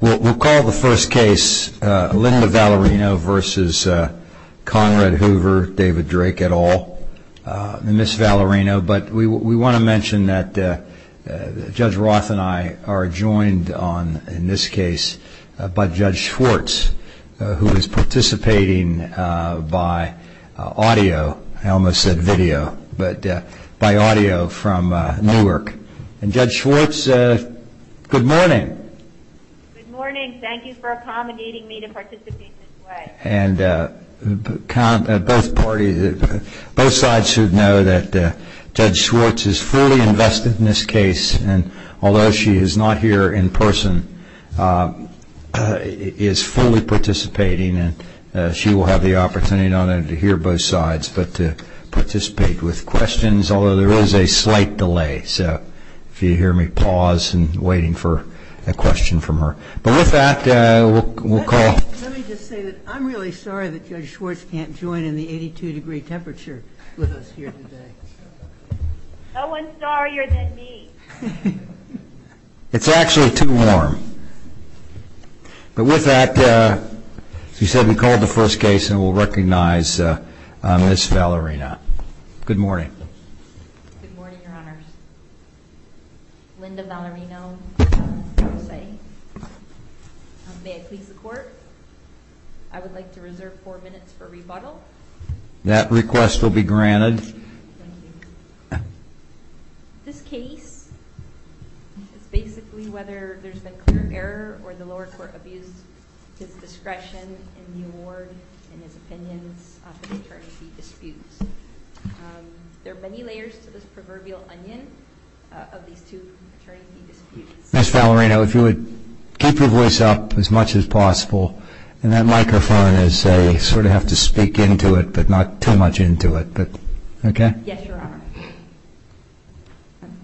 We'll call the first case Linda Valerino v. Conrad Hoover, David Drake et al., Ms. Valerino, but we want to mention that Judge Roth and I are joined in this case by Judge Schwartz who is participating by audio, I almost said video, but by audio from Newark. Judge Schwartz, good morning. Good morning, thank you for accommodating me to participate this way. Both sides should know that Judge Schwartz is fully invested in this case and although she is not here in person, is fully participating and she will have the opportunity not only to hear both sides, but to participate with questions, although there is a slight delay, so if you hear me pause and waiting for a question from her, but with that we'll call. Let me just say that I'm really sorry that Judge Schwartz can't join in the 82 degree temperature with us here today. No one's sorrier than me. It's actually too warm. But with that, as we said, we called the first case and we'll recognize Ms. Valerino. Good morning. Good morning, your honors. Linda Valerino, may I please the court? I would like to reserve four minutes for rebuttal. That request will be granted. Ms. Valerino, if you would keep your voice up as much as possible and that microphone as I sort of have to speak into it, but not too much into it. Thank you, Mr. Chief Justice. Yes, your honor.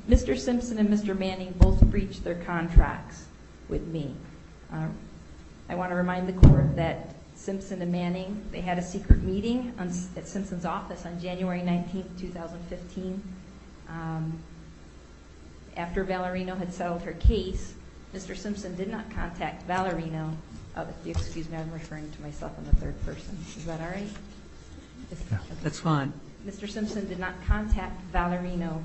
Mr. Simpson and Mr. Manning both breached their contracts with me. I want to remind the court that Simpson and Manning, they had a secret meeting at Simpson's office on January 19th, 2015. After Valerino had settled her case, Mr. Simpson did not contact Valerino. Excuse me, I'm referring to myself in the third person. Is that all right? That's fine. Mr. Simpson did not contact Valerino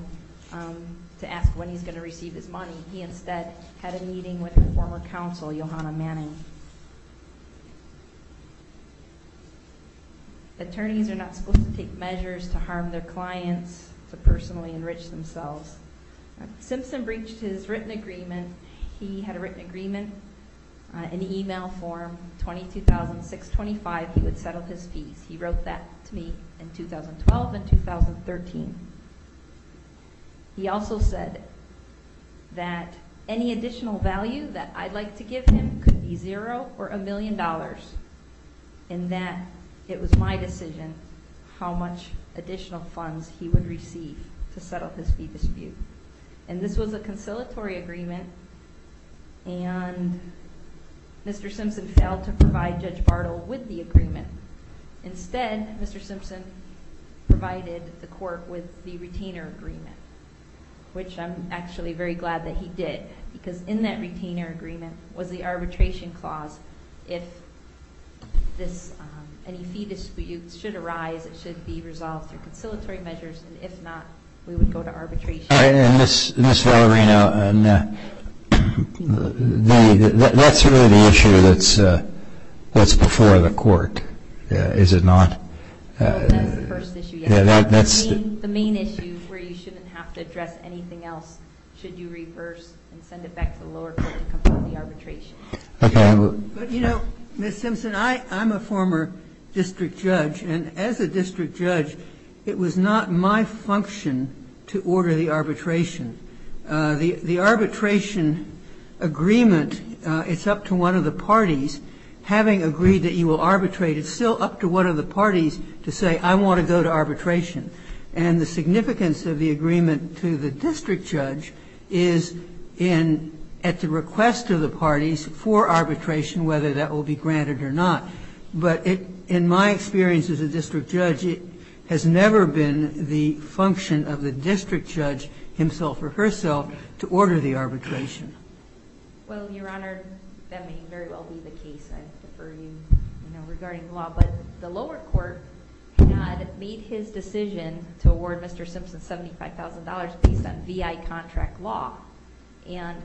to ask when he's going to receive his money. He instead had a meeting with a former counsel, Johanna Manning. Attorneys are not supposed to take measures to harm their clients, to personally enrich themselves. Simpson breached his written agreement. He had a written agreement in the email form. He wrote that to me in 2012 and 2013. He also said that any additional value that I'd like to give him could be zero or a million dollars and that it was my decision how much additional funds he would receive to settle his fee dispute. This was a conciliatory agreement and Mr. Simpson failed to provide Judge Bartle with the agreement. Instead, Mr. Simpson provided the court with the retainer agreement, which I'm actually very glad that he did because in that retainer agreement was the arbitration clause. If any fee disputes should arise, it should be resolved through conciliatory measures. If not, we would go to arbitration. Ms. Valerino, that's really the issue that's before the court, is it not? That's the first issue, yes. The main issue where you shouldn't have to address anything else should you reverse and send it back to the lower court to complete the arbitration. Okay. You know, Ms. Simpson, I'm a former district judge. And as a district judge, it was not my function to order the arbitration. The arbitration agreement, it's up to one of the parties. Having agreed that you will arbitrate, it's still up to one of the parties to say, I want to go to arbitration. And the significance of the agreement to the district judge is at the request of the parties for arbitration, whether that will be granted or not. But in my experience as a district judge, it has never been the function of the district judge, himself or herself, to order the arbitration. Well, Your Honor, that may very well be the case. I defer to you regarding the law. But the lower court had made his decision to award Mr. Simpson $75,000 based on VI contract law. And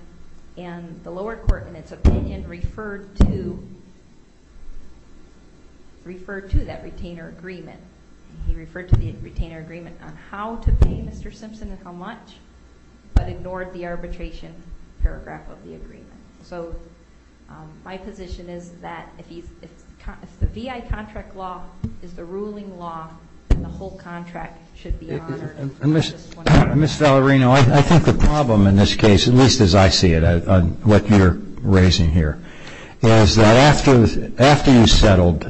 the lower court, in its opinion, referred to that retainer agreement. He referred to the retainer agreement on how to pay Mr. Simpson and how much, but ignored the arbitration paragraph of the agreement. So my position is that if the VI contract law is the ruling law, then the whole contract should be honored. Ms. Valerino, I think the problem in this case, at least as I see it, on what you're raising here, is that after you settled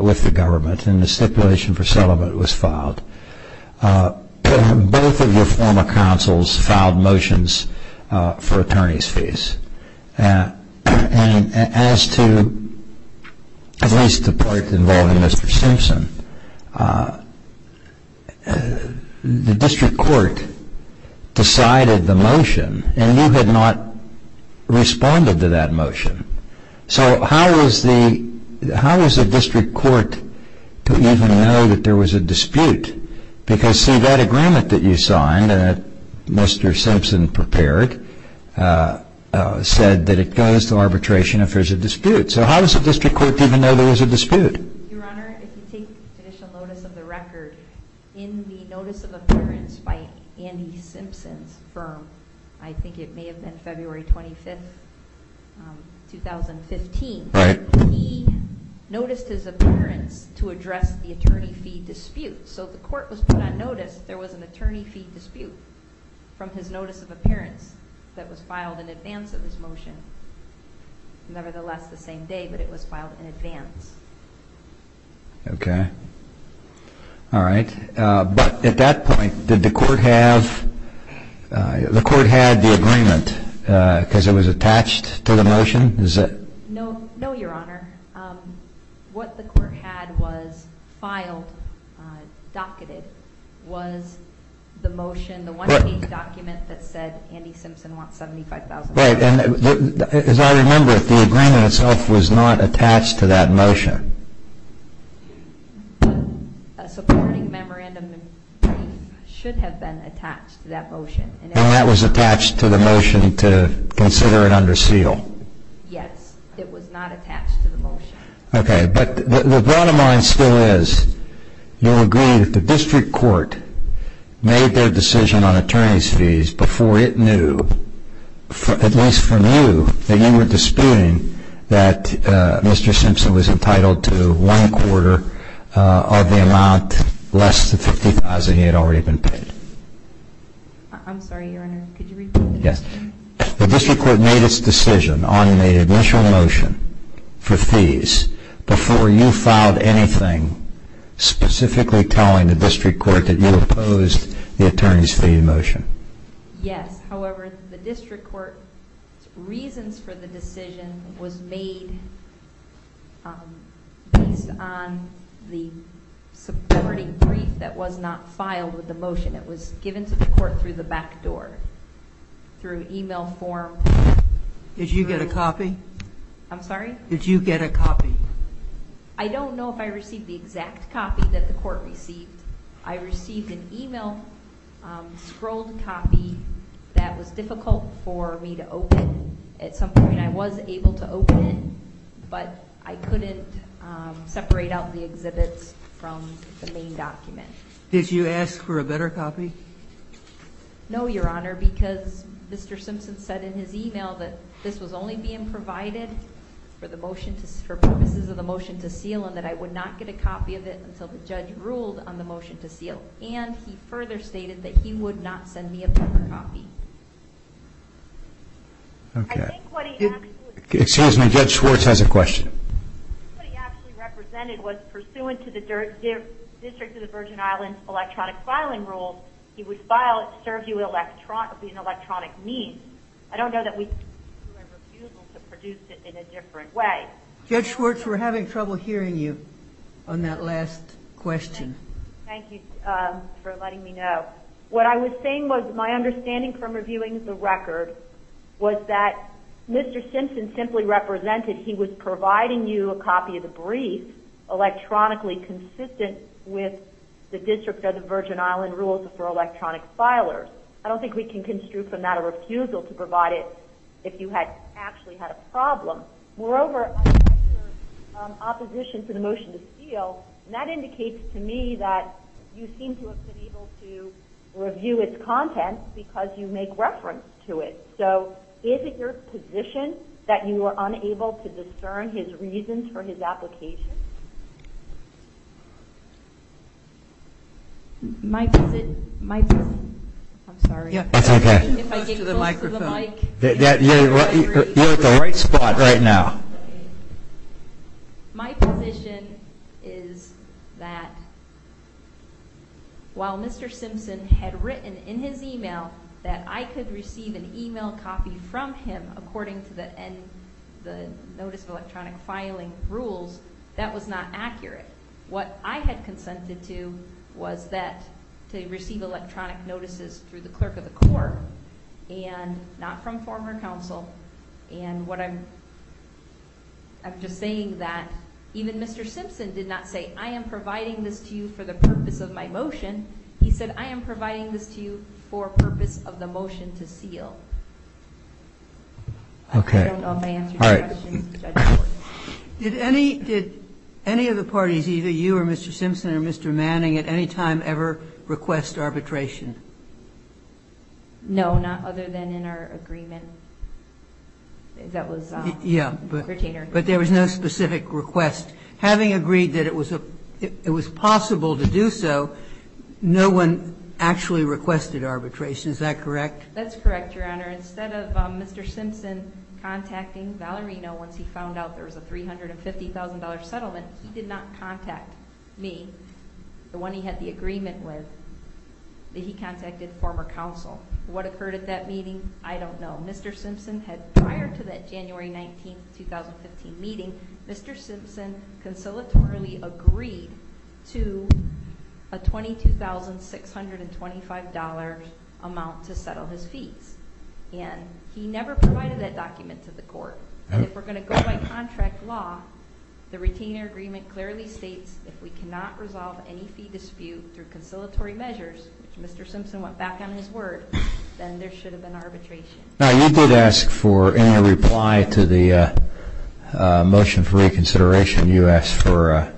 with the government and the stipulation for settlement was filed, both of your former counsels filed motions for attorney's fees. And as to at least the part involving Mr. Simpson, the district court decided the motion and you had not responded to that motion. So how is the district court to even know that there was a dispute? Because, see, that agreement that you signed that Mr. Simpson prepared said that it goes to arbitration if there's a dispute. So how does the district court even know there was a dispute? Your Honor, if you take additional notice of the record, in the notice of appearance by Andy Simpson's firm, I think it may have been February 25, 2015, he noticed his appearance to address the attorney fee dispute. So the court was put on notice that there was an attorney fee dispute from his notice of appearance that was filed in advance of his motion. Nevertheless, the same day, but it was filed in advance. Okay. All right. But at that point, did the court have the agreement because it was attached to the motion? No, Your Honor. What the court had was filed, docketed, was the motion, the one-page document that said Andy Simpson wants $75,000. As I remember it, the agreement itself was not attached to that motion. A supporting memorandum should have been attached to that motion. And that was attached to the motion to consider it under seal. Yes, it was not attached to the motion. Okay. But the bottom line still is, you'll agree that the district court made their decision on attorney's fees before it knew, at least from you, that you were disputing that Mr. Simpson was entitled to one-quarter of the amount less than $50,000 he had already been paid. I'm sorry, Your Honor. Could you repeat the question? The district court made its decision on the initial motion for fees before you filed anything specifically telling the district court that you opposed the attorney's fee motion. Yes. However, the district court's reasons for the decision was made based on the supporting brief that was not filed with the motion. It was given to the court through the back door, through e-mail form. Did you get a copy? I'm sorry? Did you get a copy? I don't know if I received the exact copy that the court received. I received an e-mail scrolled copy that was difficult for me to open. At some point I was able to open it, but I couldn't separate out the exhibits from the main document. Did you ask for a better copy? No, Your Honor, because Mr. Simpson said in his e-mail that this was only being provided for purposes of the motion to seal and that I would not get a copy of it until the judge ruled on the motion to seal. And he further stated that he would not send me a better copy. Excuse me. Judge Schwartz has a question. What he actually represented was, pursuant to the District of the Virgin Islands electronic filing rules, he would file it to serve you an electronic need. I don't know that we can do a refusal to produce it in a different way. Judge Schwartz, we're having trouble hearing you on that last question. Thank you for letting me know. What I was saying was my understanding from reviewing the record was that Mr. Simpson simply represented he was providing you a copy of the brief electronically consistent with the District of the Virgin Islands rules for electronic filers. I don't think we can construe from that a refusal to provide it if you had actually had a problem. Moreover, I read your opposition to the motion to seal, and that indicates to me that you seem to have been able to review its content because you make reference to it. So is it your position that you are unable to discern his reasons for his application? My position... I'm sorry. That's okay. If I get close to the microphone... You're at the right spot right now. My position is that while Mr. Simpson had written in his email that I could receive an email copy from him according to the Notice of Electronic Filing rules, that was not accurate. What I had consented to was to receive electronic notices through the clerk of the court and not from former counsel. And what I'm... I'm just saying that even Mr. Simpson did not say, I am providing this to you for the purpose of my motion. He said, I am providing this to you for purpose of the motion to seal. Okay. I don't know if I answered your question, Judge Gordon. Did any of the parties, either you or Mr. Simpson or Mr. Manning, at any time ever request arbitration? No, not other than in our agreement. That was... Yeah, but there was no specific request. Having agreed that it was possible to do so, no one actually requested arbitration. Is that correct? That's correct, Your Honor. Instead of Mr. Simpson contacting Valerino once he found out there was a $350,000 settlement, he did not contact me, the one he had the agreement with, that he contacted former counsel. What occurred at that meeting, I don't know. Mr. Simpson had, prior to that January 19, 2015 meeting, Mr. Simpson conciliatorily agreed to a $22,625 amount to settle his fees. And he never provided that document to the court. If we're going to go by contract law, the retainer agreement clearly states if we cannot resolve any fee dispute through conciliatory measures, which Mr. Simpson went back on his word, then there should have been arbitration. Now, you did ask for any reply to the motion for reconsideration. You asked for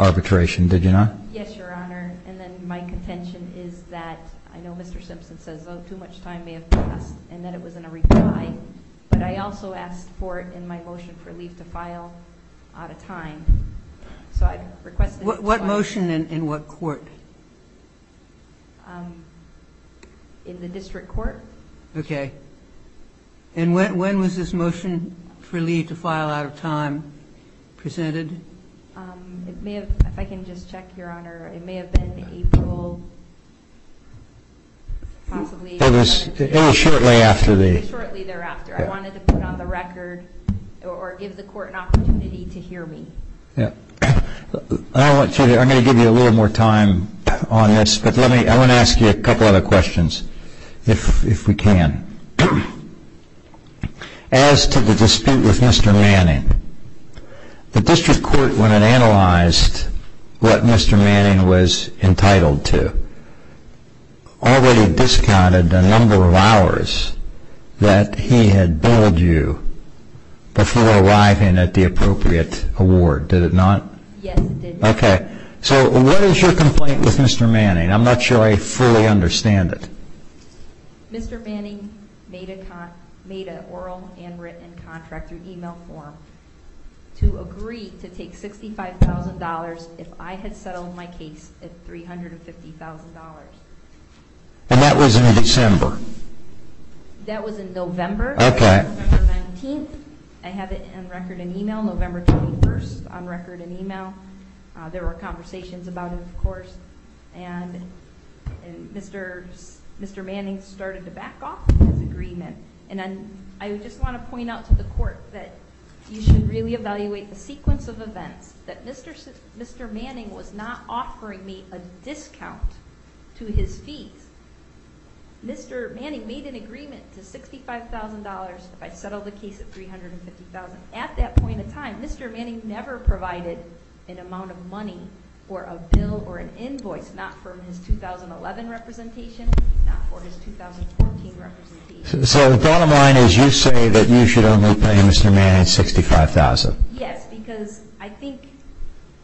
arbitration, did you not? Yes, Your Honor. And then my contention is that I know Mr. Simpson says, oh, too much time may have passed, and that it was in a reply, but I also asked for it in my motion for leave to file out of time. So I requested... What motion and in what court? In the district court. Okay. And when was this motion for leave to file out of time presented? If I can just check, Your Honor, it may have been April possibly. It was shortly thereafter. Shortly thereafter. I wanted to put on the record or give the court an opportunity to hear me. I'm going to give you a little more time on this, but I want to ask you a couple other questions. If we can. As to the dispute with Mr. Manning, the district court, when it analyzed what Mr. Manning was entitled to, already discounted the number of hours that he had billed you before arriving at the appropriate award. Did it not? Yes, it did. Okay. So what is your complaint with Mr. Manning? I'm not sure I fully understand it. Mr. Manning made an oral and written contract through email form to agree to take $65,000 if I had settled my case at $350,000. And that was in December? That was in November. Okay. November 19th. I have it on record in email. November 21st on record in email. There were conversations about it, of course. And Mr. Manning started to back off his agreement. And I just want to point out to the court that you should really evaluate the sequence of events, that Mr. Manning was not offering me a discount to his fees. Mr. Manning made an agreement to $65,000 if I settled the case at $350,000. At that point in time, Mr. Manning never provided an amount of money for a bill or an invoice, not for his 2011 representation, not for his 2014 representation. So the bottom line is you say that you should only pay Mr. Manning $65,000? Yes, because I think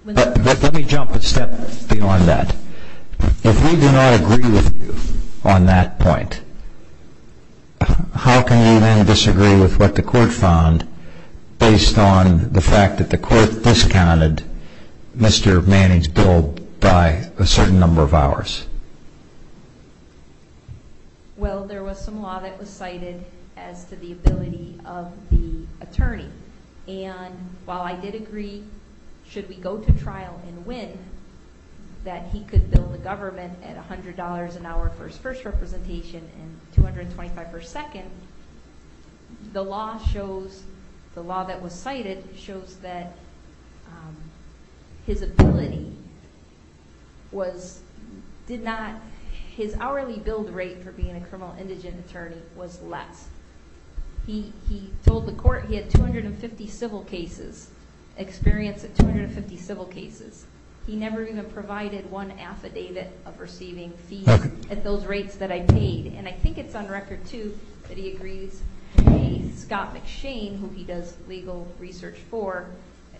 when the court... Let me jump a step beyond that. If we do not agree with you on that point, how can you then disagree with what the court found based on the fact that the court discounted Mr. Manning's bill by a certain number of hours? Well, there was some law that was cited as to the ability of the attorney. And while I did agree, should we go to trial and win, that he could bill the government at $100 an hour for his first representation and $225 per second, the law that was cited shows that his ability did not... His hourly billed rate for being a criminal indigent attorney was less. He told the court he had 250 civil cases, experience at 250 civil cases. He never even provided one affidavit of receiving fees at those rates that I paid. And I think it's on record, too, that he agrees to pay Scott McShane, who he does legal research for,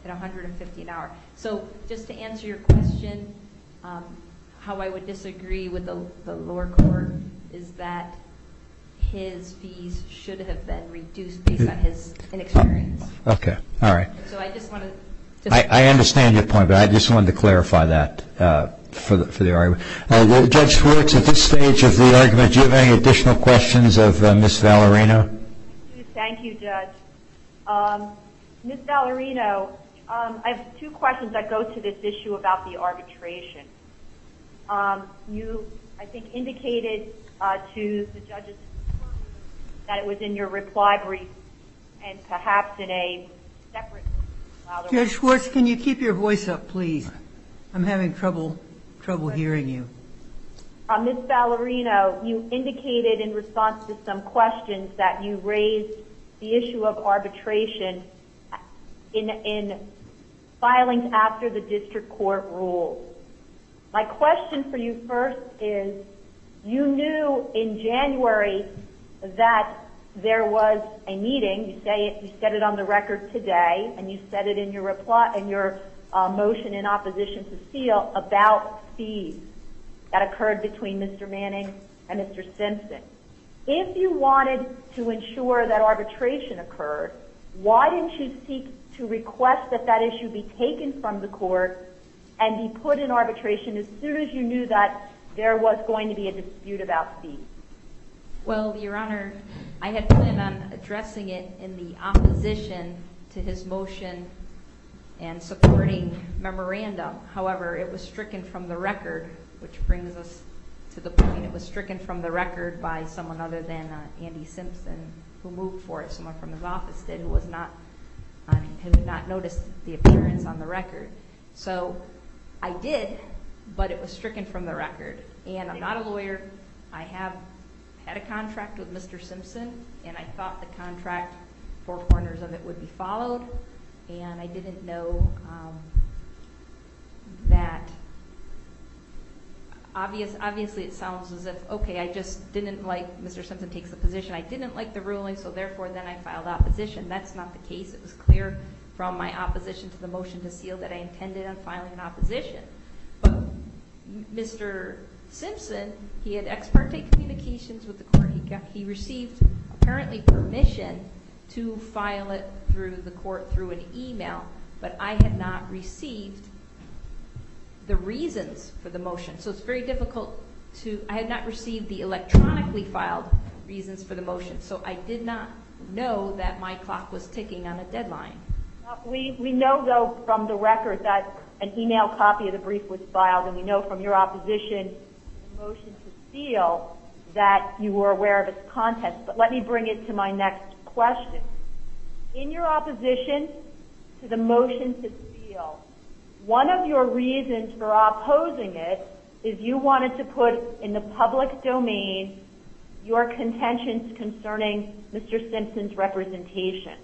at $150 an hour. So just to answer your question, how I would disagree with the lower court is that his fees should have been reduced based on his inexperience. Okay. All right. So I just want to... I understand your point, but I just wanted to clarify that for the argument. Judge Schwartz, at this stage of the argument, do you have any additional questions of Ms. Valerino? Thank you, Judge. Ms. Valerino, I have two questions that go to this issue about the arbitration. You, I think, indicated to the judges that it was in your reply brief and perhaps in a separate... Judge Schwartz, can you keep your voice up, please? I'm having trouble hearing you. Ms. Valerino, you indicated in response to some questions that you raised the issue of arbitration in filings after the district court rules. My question for you first is, you knew in January that there was a meeting. You said it on the record today, and you said it in your motion in opposition to Steele about fees that occurred between Mr. Manning and Mr. Simpson. If you wanted to ensure that arbitration occurred, why didn't you seek to request that that issue be taken from the court and be put in arbitration as soon as you knew that there was going to be a dispute about fees? Well, Your Honor, I had planned on addressing it in the opposition to his motion and supporting memorandum. However, it was stricken from the record, which brings us to the point. It was stricken from the record by someone other than Andy Simpson, who moved for it, someone from his office did, who had not noticed the appearance on the record. So I did, but it was stricken from the record. And I'm not a lawyer. I have had a contract with Mr. Simpson, and I thought the contract, four corners of it, would be followed. And I didn't know that. Obviously it sounds as if, okay, I just didn't like Mr. Simpson takes the position. I didn't like the ruling, so therefore then I filed opposition. That's not the case. It was clear from my opposition to the motion to Steele that I intended on filing an opposition. But Mr. Simpson, he had ex parte communications with the court. He received apparently permission to file it through the court through an e-mail, but I had not received the reasons for the motion. So it's very difficult to – I had not received the electronically filed reasons for the motion. So I did not know that my clock was ticking on a deadline. We know, though, from the record that an e-mail copy of the brief was filed, and we know from your opposition to the motion to Steele that you were aware of its contents. But let me bring it to my next question. In your opposition to the motion to Steele, one of your reasons for opposing it is you wanted to put in the public domain your contentions concerning Mr. Simpson's representation.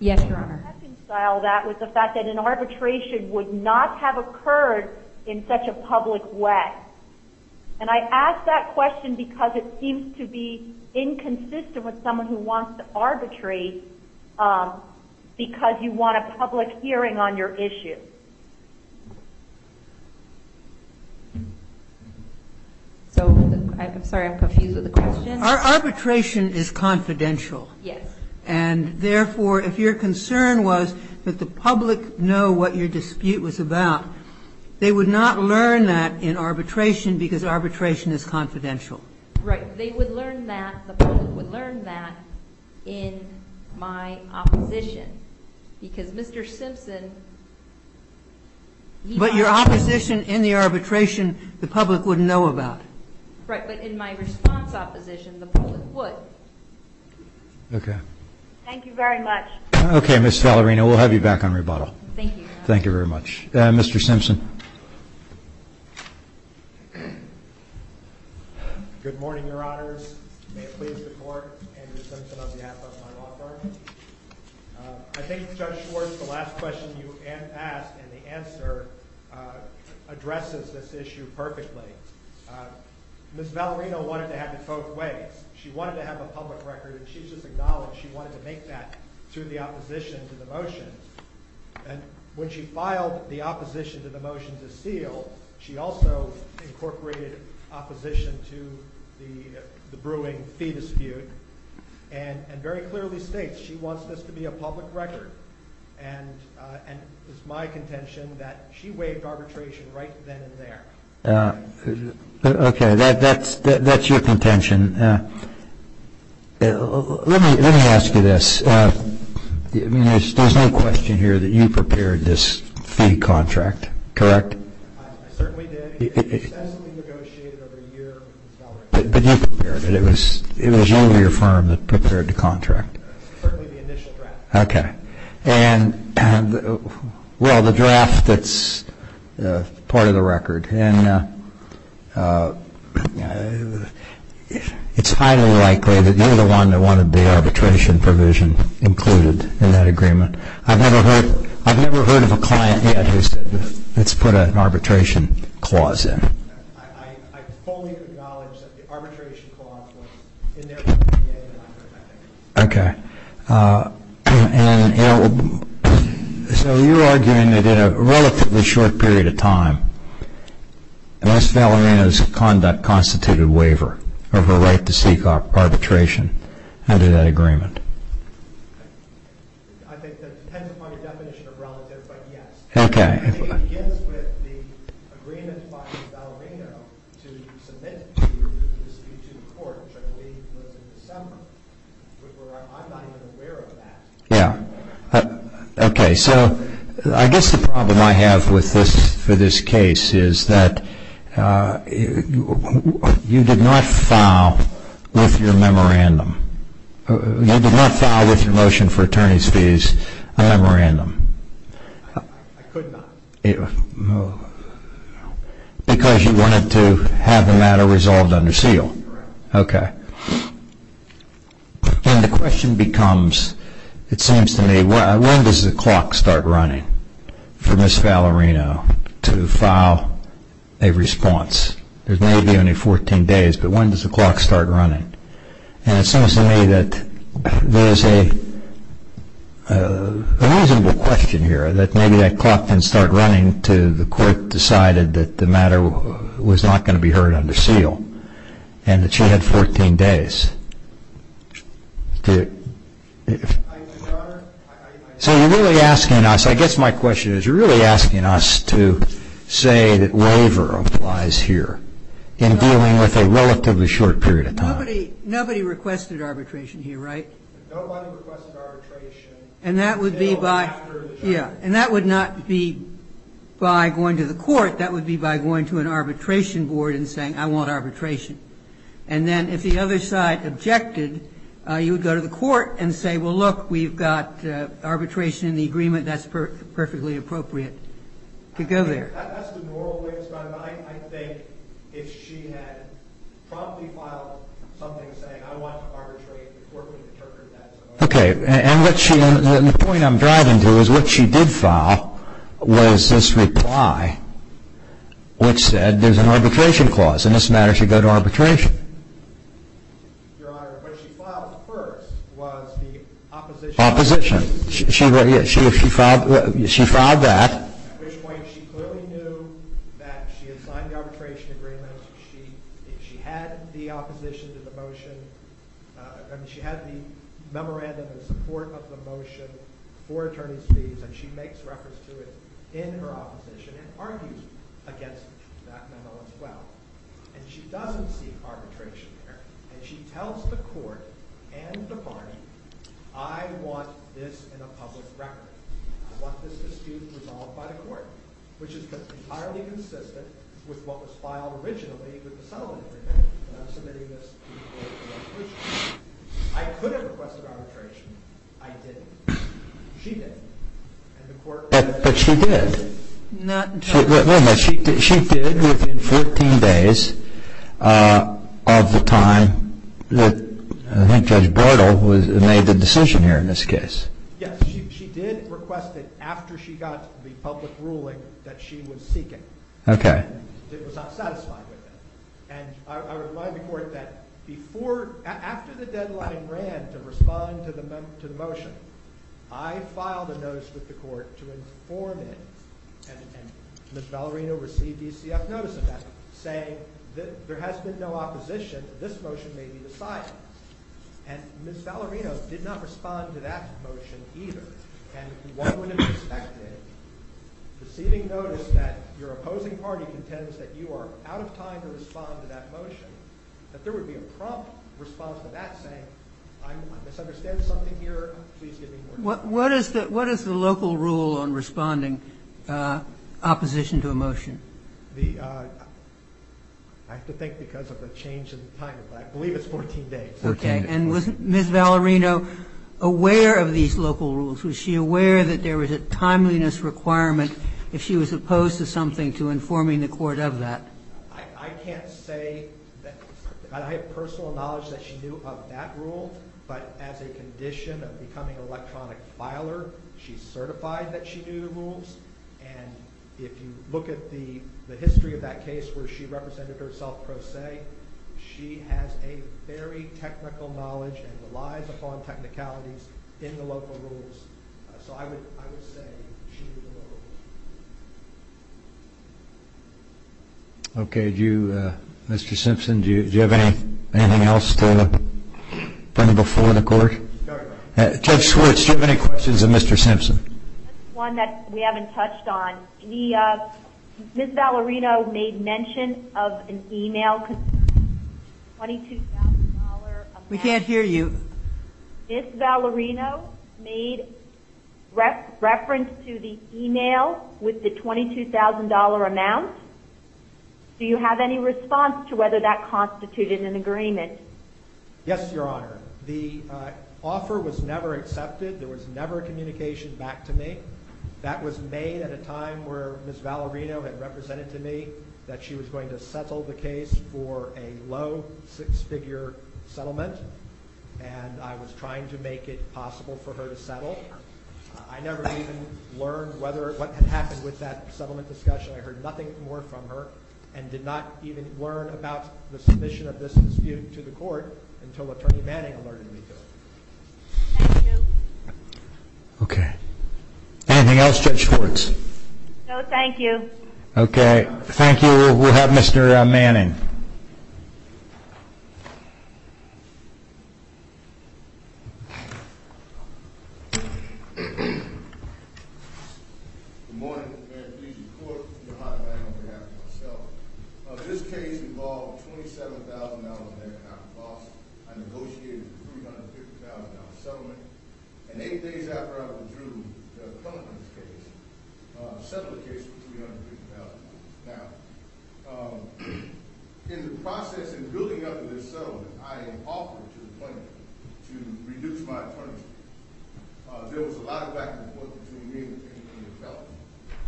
Yes, Your Honor. I reconcile that with the fact that an arbitration would not have occurred in such a public way. And I ask that question because it seems to be inconsistent with someone who wants to arbitrate because you want a public hearing on your issue. So, I'm sorry, I'm confused with the question. Arbitration is confidential. Yes. And, therefore, if your concern was that the public know what your dispute was about, they would not learn that in arbitration because arbitration is confidential. Right. They would learn that, the public would learn that in my opposition because Mr. Simpson But your opposition in the arbitration, the public would know about. Right. But in my response opposition, the public would. Okay. Thank you very much. Okay, Ms. Valerino, we'll have you back on rebuttal. Thank you, Your Honor. Thank you very much. Mr. Simpson. Good morning, Your Honors. May it please the Court, Andrew Simpson on behalf of my law firm. I think Judge Schwartz, the last question you asked and the answer addresses this issue perfectly. Ms. Valerino wanted to have it both ways. She wanted to have a public record and she just acknowledged she wanted to make that through the opposition to the motion. And when she filed the opposition to the motion to seal, she also incorporated opposition to the brewing fee dispute and very clearly states she wants this to be a public record. And it's my contention that she waived arbitration right then and there. Okay, that's your contention. Let me ask you this. There's no question here that you prepared this fee contract, correct? I certainly did. It was essentially negotiated over a year with Ms. Valerino. But you prepared it. It was you or your firm that prepared the contract? Certainly the initial draft. Okay. And, well, the draft that's part of the record. And it's highly likely that you're the one that wanted the arbitration provision included in that agreement. I've never heard of a client yet who said, let's put an arbitration clause in. I fully acknowledge that the arbitration clause was in their PDA. Okay. And so you're arguing that in a relatively short period of time, Ms. Valerino's conduct constituted waiver of her right to seek arbitration under that agreement. I think that depends upon your definition of relative, but yes. Okay. It begins with the agreement by Ms. Valerino to submit the dispute to the court, which I believe was in December. I'm not even aware of that. Yeah. Okay. So I guess the problem I have with this case is that you did not file with your memorandum. You did not file with your motion for attorney's fees a memorandum. I could not. Because you wanted to have the matter resolved under seal. Correct. Okay. And the question becomes, it seems to me, when does the clock start running for Ms. Valerino to file a response? There may be only 14 days, but when does the clock start running? And it seems to me that there's a reasonable question here that maybe that clock can start running until the court decided that the matter was not going to be heard under seal and that she had 14 days. So you're really asking us, I guess my question is, you're really asking us to say that waiver applies here in dealing with a relatively short period of time. Nobody requested arbitration here, right? Nobody requested arbitration until after the judgment. Yeah. And that would not be by going to the court. That would be by going to an arbitration board and saying, I want arbitration. And then if the other side objected, you would go to the court and say, well, look, we've got arbitration in the agreement. That's perfectly appropriate to go there. That's the moral of it. I think if she had promptly filed something saying, I want arbitration, the court would interpret that. Okay. And the point I'm driving to is what she did file was this reply which said there's an arbitration clause and this matter should go to arbitration. Your Honor, what she filed first was the opposition. Opposition. She filed that. At which point she clearly knew that she had signed the arbitration agreement. She had the opposition to the motion. I mean, she had the memorandum in support of the motion for attorney's fees, and she makes reference to it in her opposition and argues against that memo as well. And she doesn't seek arbitration there. And she tells the court and the party, I want this in a public record. I want this dispute resolved by the court, which is entirely consistent with what was filed originally with the settlement agreement, and I'm submitting this to the court for arbitration. I could have requested arbitration. I didn't. She didn't. But she did. She did within 14 days of the time that I think Judge Bortle made the decision here in this case. Yes, she did request it after she got the public ruling that she was seeking. Okay. And it was not satisfied with it. And I remind the court that after the deadline ran to respond to the motion, I filed a notice with the court to inform it, and Ms. Valerino received ECF notice of that saying there has been no opposition, this motion may be decided. And Ms. Valerino did not respond to that motion either. And one would expect it, receiving notice that your opposing party contends that you are out of time to respond to that motion, that there would be a prompt response to that saying I misunderstand something here, please give me more time. What is the local rule on responding opposition to a motion? I have to think because of the change in time, but I believe it's 14 days. Okay. And was Ms. Valerino aware of these local rules? Was she aware that there was a timeliness requirement if she was opposed to something to informing the court of that? I can't say. I have personal knowledge that she knew of that rule, but as a condition of becoming an electronic filer, she's certified that she knew the rules. And if you look at the history of that case where she represented herself pro se, she has a very technical knowledge and relies upon technicalities in the local rules. So I would say she knew the local rules. Okay. Mr. Simpson, do you have anything else to bring before the court? Judge Schwartz, do you have any questions of Mr. Simpson? Just one that we haven't touched on. Ms. Valerino made mention of an e-mail with a $22,000 amount. We can't hear you. Ms. Valerino made reference to the e-mail with the $22,000 amount. Do you have any response to whether that constituted an agreement? Yes, Your Honor. The offer was never accepted. There was never a communication back to me. That was made at a time where Ms. Valerino had represented to me that she was going to settle the case for a low six-figure settlement, and I was trying to make it possible for her to settle. I never even learned what had happened with that settlement discussion. I heard nothing more from her and did not even learn about the submission of this dispute to the court until Attorney Manning alerted me to it. Thank you. Okay. Anything else, Judge Schwartz? No, thank you. Okay. Thank you. We'll have Mr. Manning. Good morning. May it please the Court, Your Honor, and on behalf of myself. This case involved a $27,000-and-a-half loss. I negotiated a $350,000 settlement, and eight days after I withdrew the plaintiff's case, I settled the case for $350,000. Now, in the process of building up to this settlement, I offered to the plaintiff to reduce my terms. There was a lot of back and forth between me and the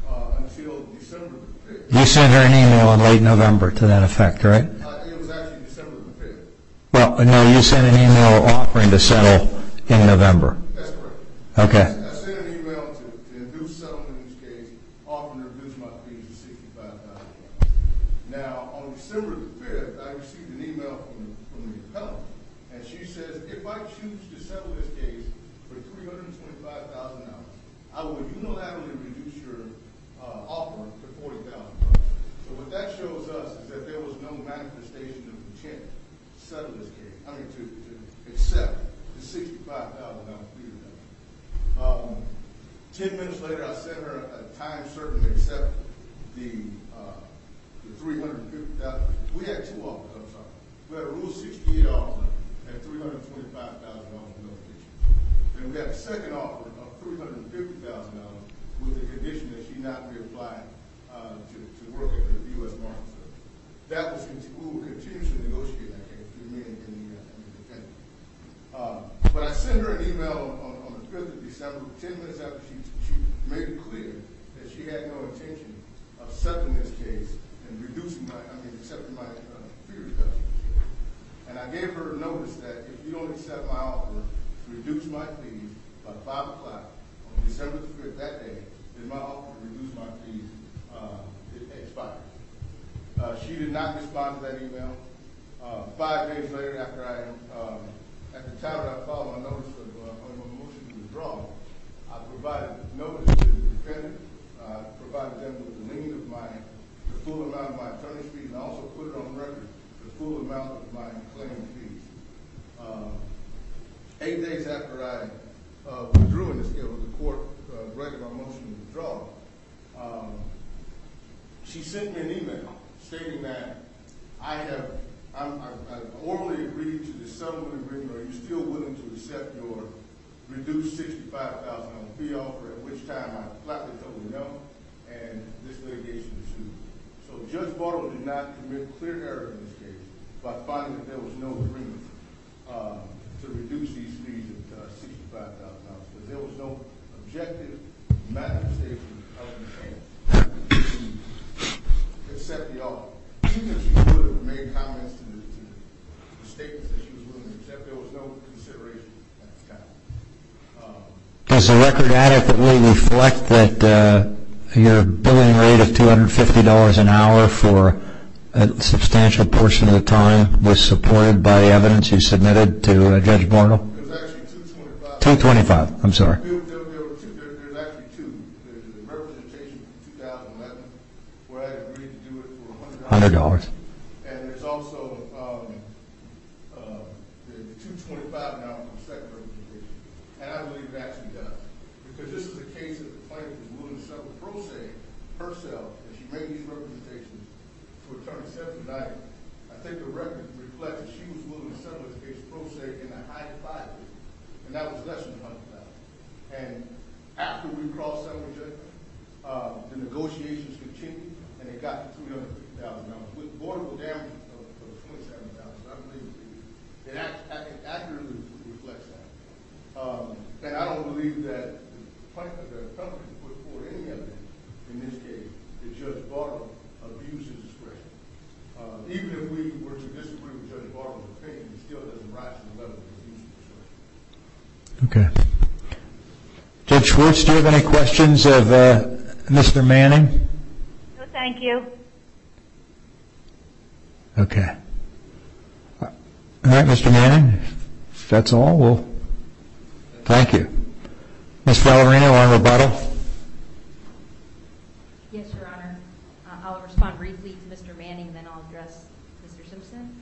plaintiff until December of the fifth. You sent her an email in late November to that effect, right? It was actually December of the fifth. Well, no, you sent an email offering to settle in November. That's correct. Okay. I sent an email to induce settlement in this case, offering to reduce my fees to $65,000. Now, on December the fifth, I received an email from the appellant, and she says, if I choose to settle this case for $325,000, I will unilaterally reduce your offer for $40,000. So what that shows us is that there was no manifestation of intent to settle this case, I mean to accept the $65,000 fee. Ten minutes later, I sent her a time certain to accept the $350,000. We had two offers. I'm sorry. We had a Rule 68 offer at $325,000, no addition. And we had a second offer of $350,000 with the condition that she not reapply to work at the U.S. Martin Center. We will continue to negotiate that case. We remain independent. But I sent her an email on the fifth of December. Ten minutes after, she made it clear that she had no intention of settling this case and reducing my fees. And I gave her a notice that if you don't accept my offer to reduce my fees by 5 o'clock on December 5th that day, then my offer to reduce my fees expires. She did not respond to that email. Five days later, after I, at the time that I filed my notice of motion to withdraw, I provided a notice to the defendant. I provided them with the full amount of my attorney's fees and also put it on record the full amount of my claim fees. Eight days after I withdrew in this case with the court breaking my motion to withdraw, she sent me an email stating that I have orally agreed to the settlement agreement. Are you still willing to accept your reduced $65,000 fee offer? At which time, I flatly told her no, and this litigation was sued. So Judge Bottle did not commit a clear error in this case by finding that there was no agreement to reduce these fees at $65,000. There was no objective matter statement of intent to accept the offer. She could have made comments to the statement that she was willing to accept. There was no consideration at the time. Does the record adequately reflect that your billing rate of $250 an hour for a substantial portion of the time was supported by the evidence you submitted to Judge Bottle? It was actually $225. $225, I'm sorry. There's actually two. There's a representation from 2011 where I agreed to do it for $100. And there's also the $225 an hour from secondary litigation, and I believe that she does, because this is a case that the plaintiff was willing to settle pro se herself, and she made these representations to attorney Sessions tonight. I think the record reflects that she was willing to settle it against pro se in a high defined way, and that was less than $100,000. And after we crossed that with Judge Bottle, the negotiations continued, and it got to $200,000, with vortical damages of $27,000, I believe. It accurately reflects that. And I don't believe that the plaintiff or the attorney put forth any evidence in this case that Judge Bottle abused his discretion. Even if we were to disagree with Judge Bottle's opinion, it still doesn't rise to the level of abuse of discretion. Okay. Judge Schwartz, do you have any questions of Mr. Manning? No, thank you. Okay. All right, Mr. Manning, if that's all, we'll thank you. Ms. Valerino on Roboto? Yes, Your Honor. I'll respond briefly to Mr. Manning, and then I'll address Mr. Simpson.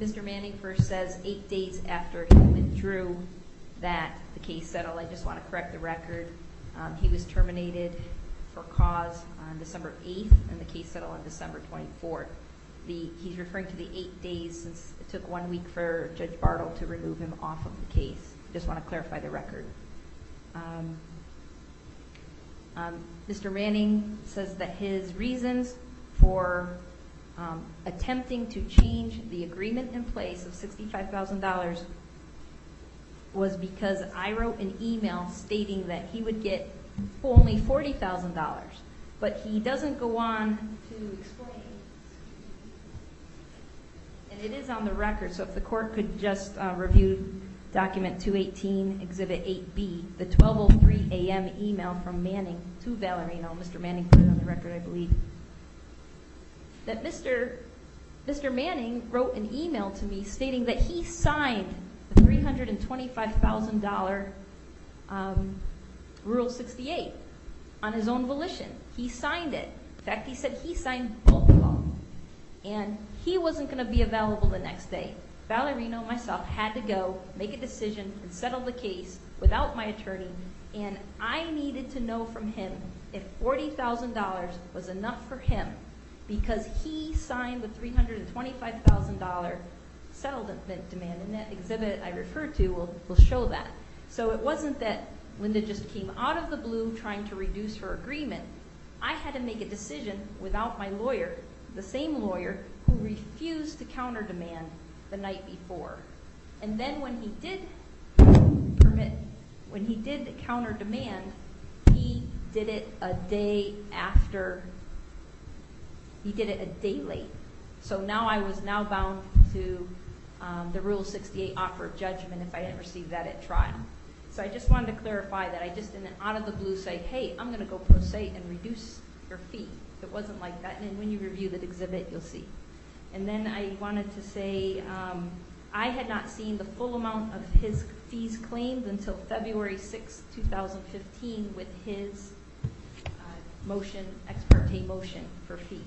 Mr. Manning first says eight days after he withdrew that the case settled. I just want to correct the record. He was terminated for cause on December 8th, and the case settled on December 24th. He's referring to the eight days since it took one week for Judge Bottle to remove him off of the case. I just want to clarify the record. Mr. Manning says that his reasons for attempting to change the agreement in place of $65,000 was because I wrote an email stating that he would get only $40,000. But he doesn't go on to explain, and it is on the record, so if the Court could just review document 218, Exhibit 8B, the 12.03 a.m. email from Manning to Valerino. Mr. Manning put it on the record, I believe, that Mr. Manning wrote an email to me stating that he signed the $325,000 Rule 68 on his own volition. He signed it. In fact, he said he signed both of them, and he wasn't going to be available the next day. Valerino and myself had to go make a decision and settle the case without my attorney, and I needed to know from him if $40,000 was enough for him because he signed the $325,000 settlement demand, and that exhibit I referred to will show that. So it wasn't that Linda just came out of the blue trying to reduce her agreement. I had to make a decision without my lawyer, the same lawyer, who refused to counter demand the night before. And then when he did permit, when he did counter demand, he did it a day after. He did it a day late. So now I was now bound to the Rule 68 offer of judgment if I didn't receive that at trial. So I just wanted to clarify that. I just didn't out of the blue say, hey, I'm going to go pro se and reduce your fee. It wasn't like that. And when you review the exhibit, you'll see. And then I wanted to say I had not seen the full amount of his fees claimed until February 6, 2015, with his motion, Ex parte motion for fees.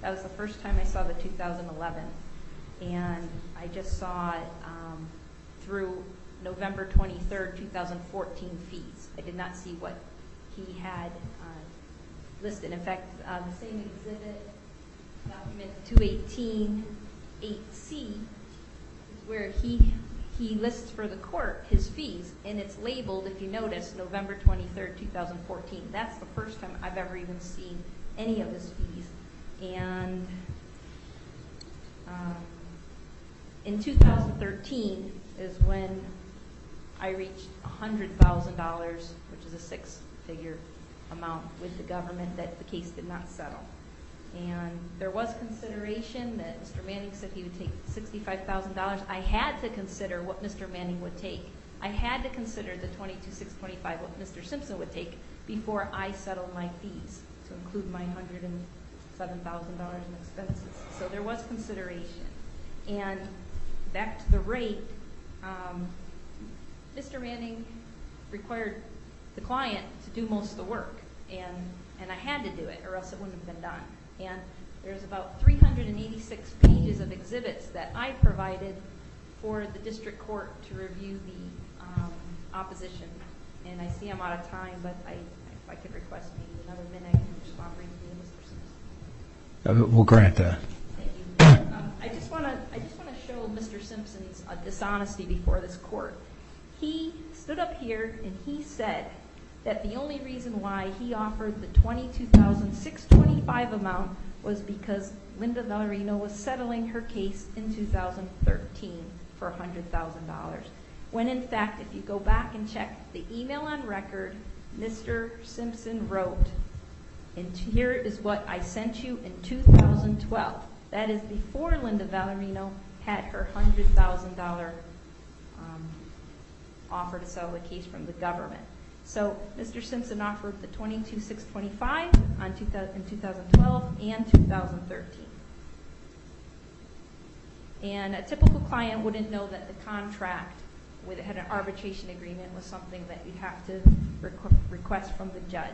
That was the first time I saw the 2011. And I just saw it through November 23, 2014 fees. I did not see what he had listed. In fact, the same exhibit, Document 218-8C, is where he lists for the court his fees. And it's labeled, if you notice, November 23, 2014. That's the first time I've ever even seen any of his fees. And in 2013 is when I reached $100,000, which is a six-figure amount, with the government that the case did not settle. And there was consideration that Mr. Manning said he would take $65,000. I had to consider what Mr. Manning would take. I had to consider the $22,625 what Mr. Simpson would take before I settled my fees to include my $107,000 in expenses. So there was consideration. And back to the rate, Mr. Manning required the client to do most of the work, and I had to do it or else it wouldn't have been done. And there's about 386 pages of exhibits that I provided for the district court to review the opposition. And I see I'm out of time, but if I could request maybe another minute to respond briefly to Mr. Simpson. We'll grant that. I just want to show Mr. Simpson's dishonesty before this court. He stood up here and he said that the only reason why he offered the $22,625 amount was because Linda Valerino was settling her case in 2013 for $100,000. When, in fact, if you go back and check the email on record, Mr. Simpson wrote, and here is what I sent you in 2012. That is before Linda Valerino had her $100,000 offer to sell the case from the government. So Mr. Simpson offered the $22,625 in 2012 and 2013. And a typical client wouldn't know that the contract had an arbitration agreement with something that you have to request from the judge.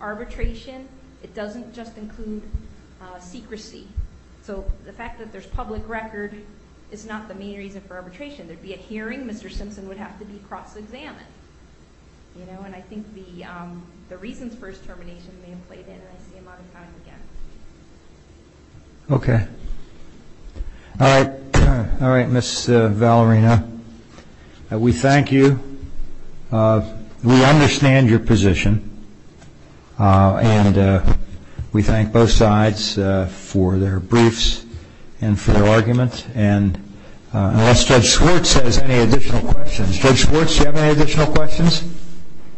Arbitration, it doesn't just include secrecy. So the fact that there's public record is not the main reason for arbitration. There would be a hearing. Mr. Simpson would have to be cross-examined. And I think the reasons for his termination may have played in, and I see him all the time again. Okay. All right, Ms. Valerino. We thank you. We understand your position. And we thank both sides for their briefs and for their arguments. And unless Judge Schwartz has any additional questions. Judge Schwartz, do you have any additional questions?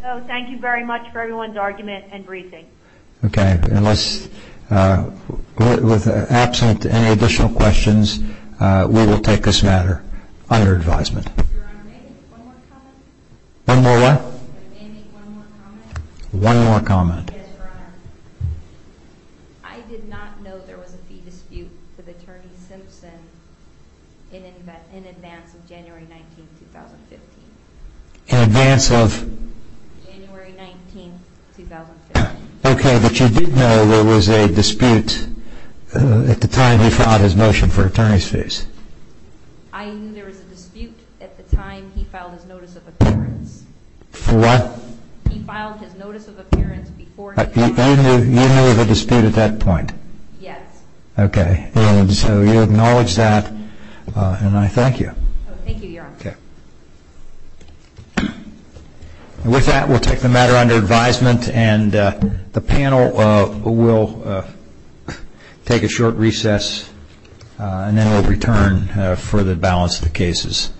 No. Thank you very much for everyone's argument and briefing. Okay. With absent any additional questions, we will take this matter under advisement. Your Honor, may I make one more comment? One more what? May I make one more comment? One more comment. Yes, Your Honor. I did not know there was a fee dispute with Attorney Simpson in advance of January 19, 2015. In advance of? January 19, 2015. Okay, but you did know there was a dispute at the time he filed his motion for attorney's fees? I knew there was a dispute at the time he filed his notice of appearance. For what? He filed his notice of appearance before January 19, 2015. You knew there was a dispute at that point? Yes. Okay. And so you acknowledge that. And I thank you. Thank you, Your Honor. Okay. With that, we'll take the matter under advisement. And the panel will take a short recess. And then we'll return for the balance of the cases.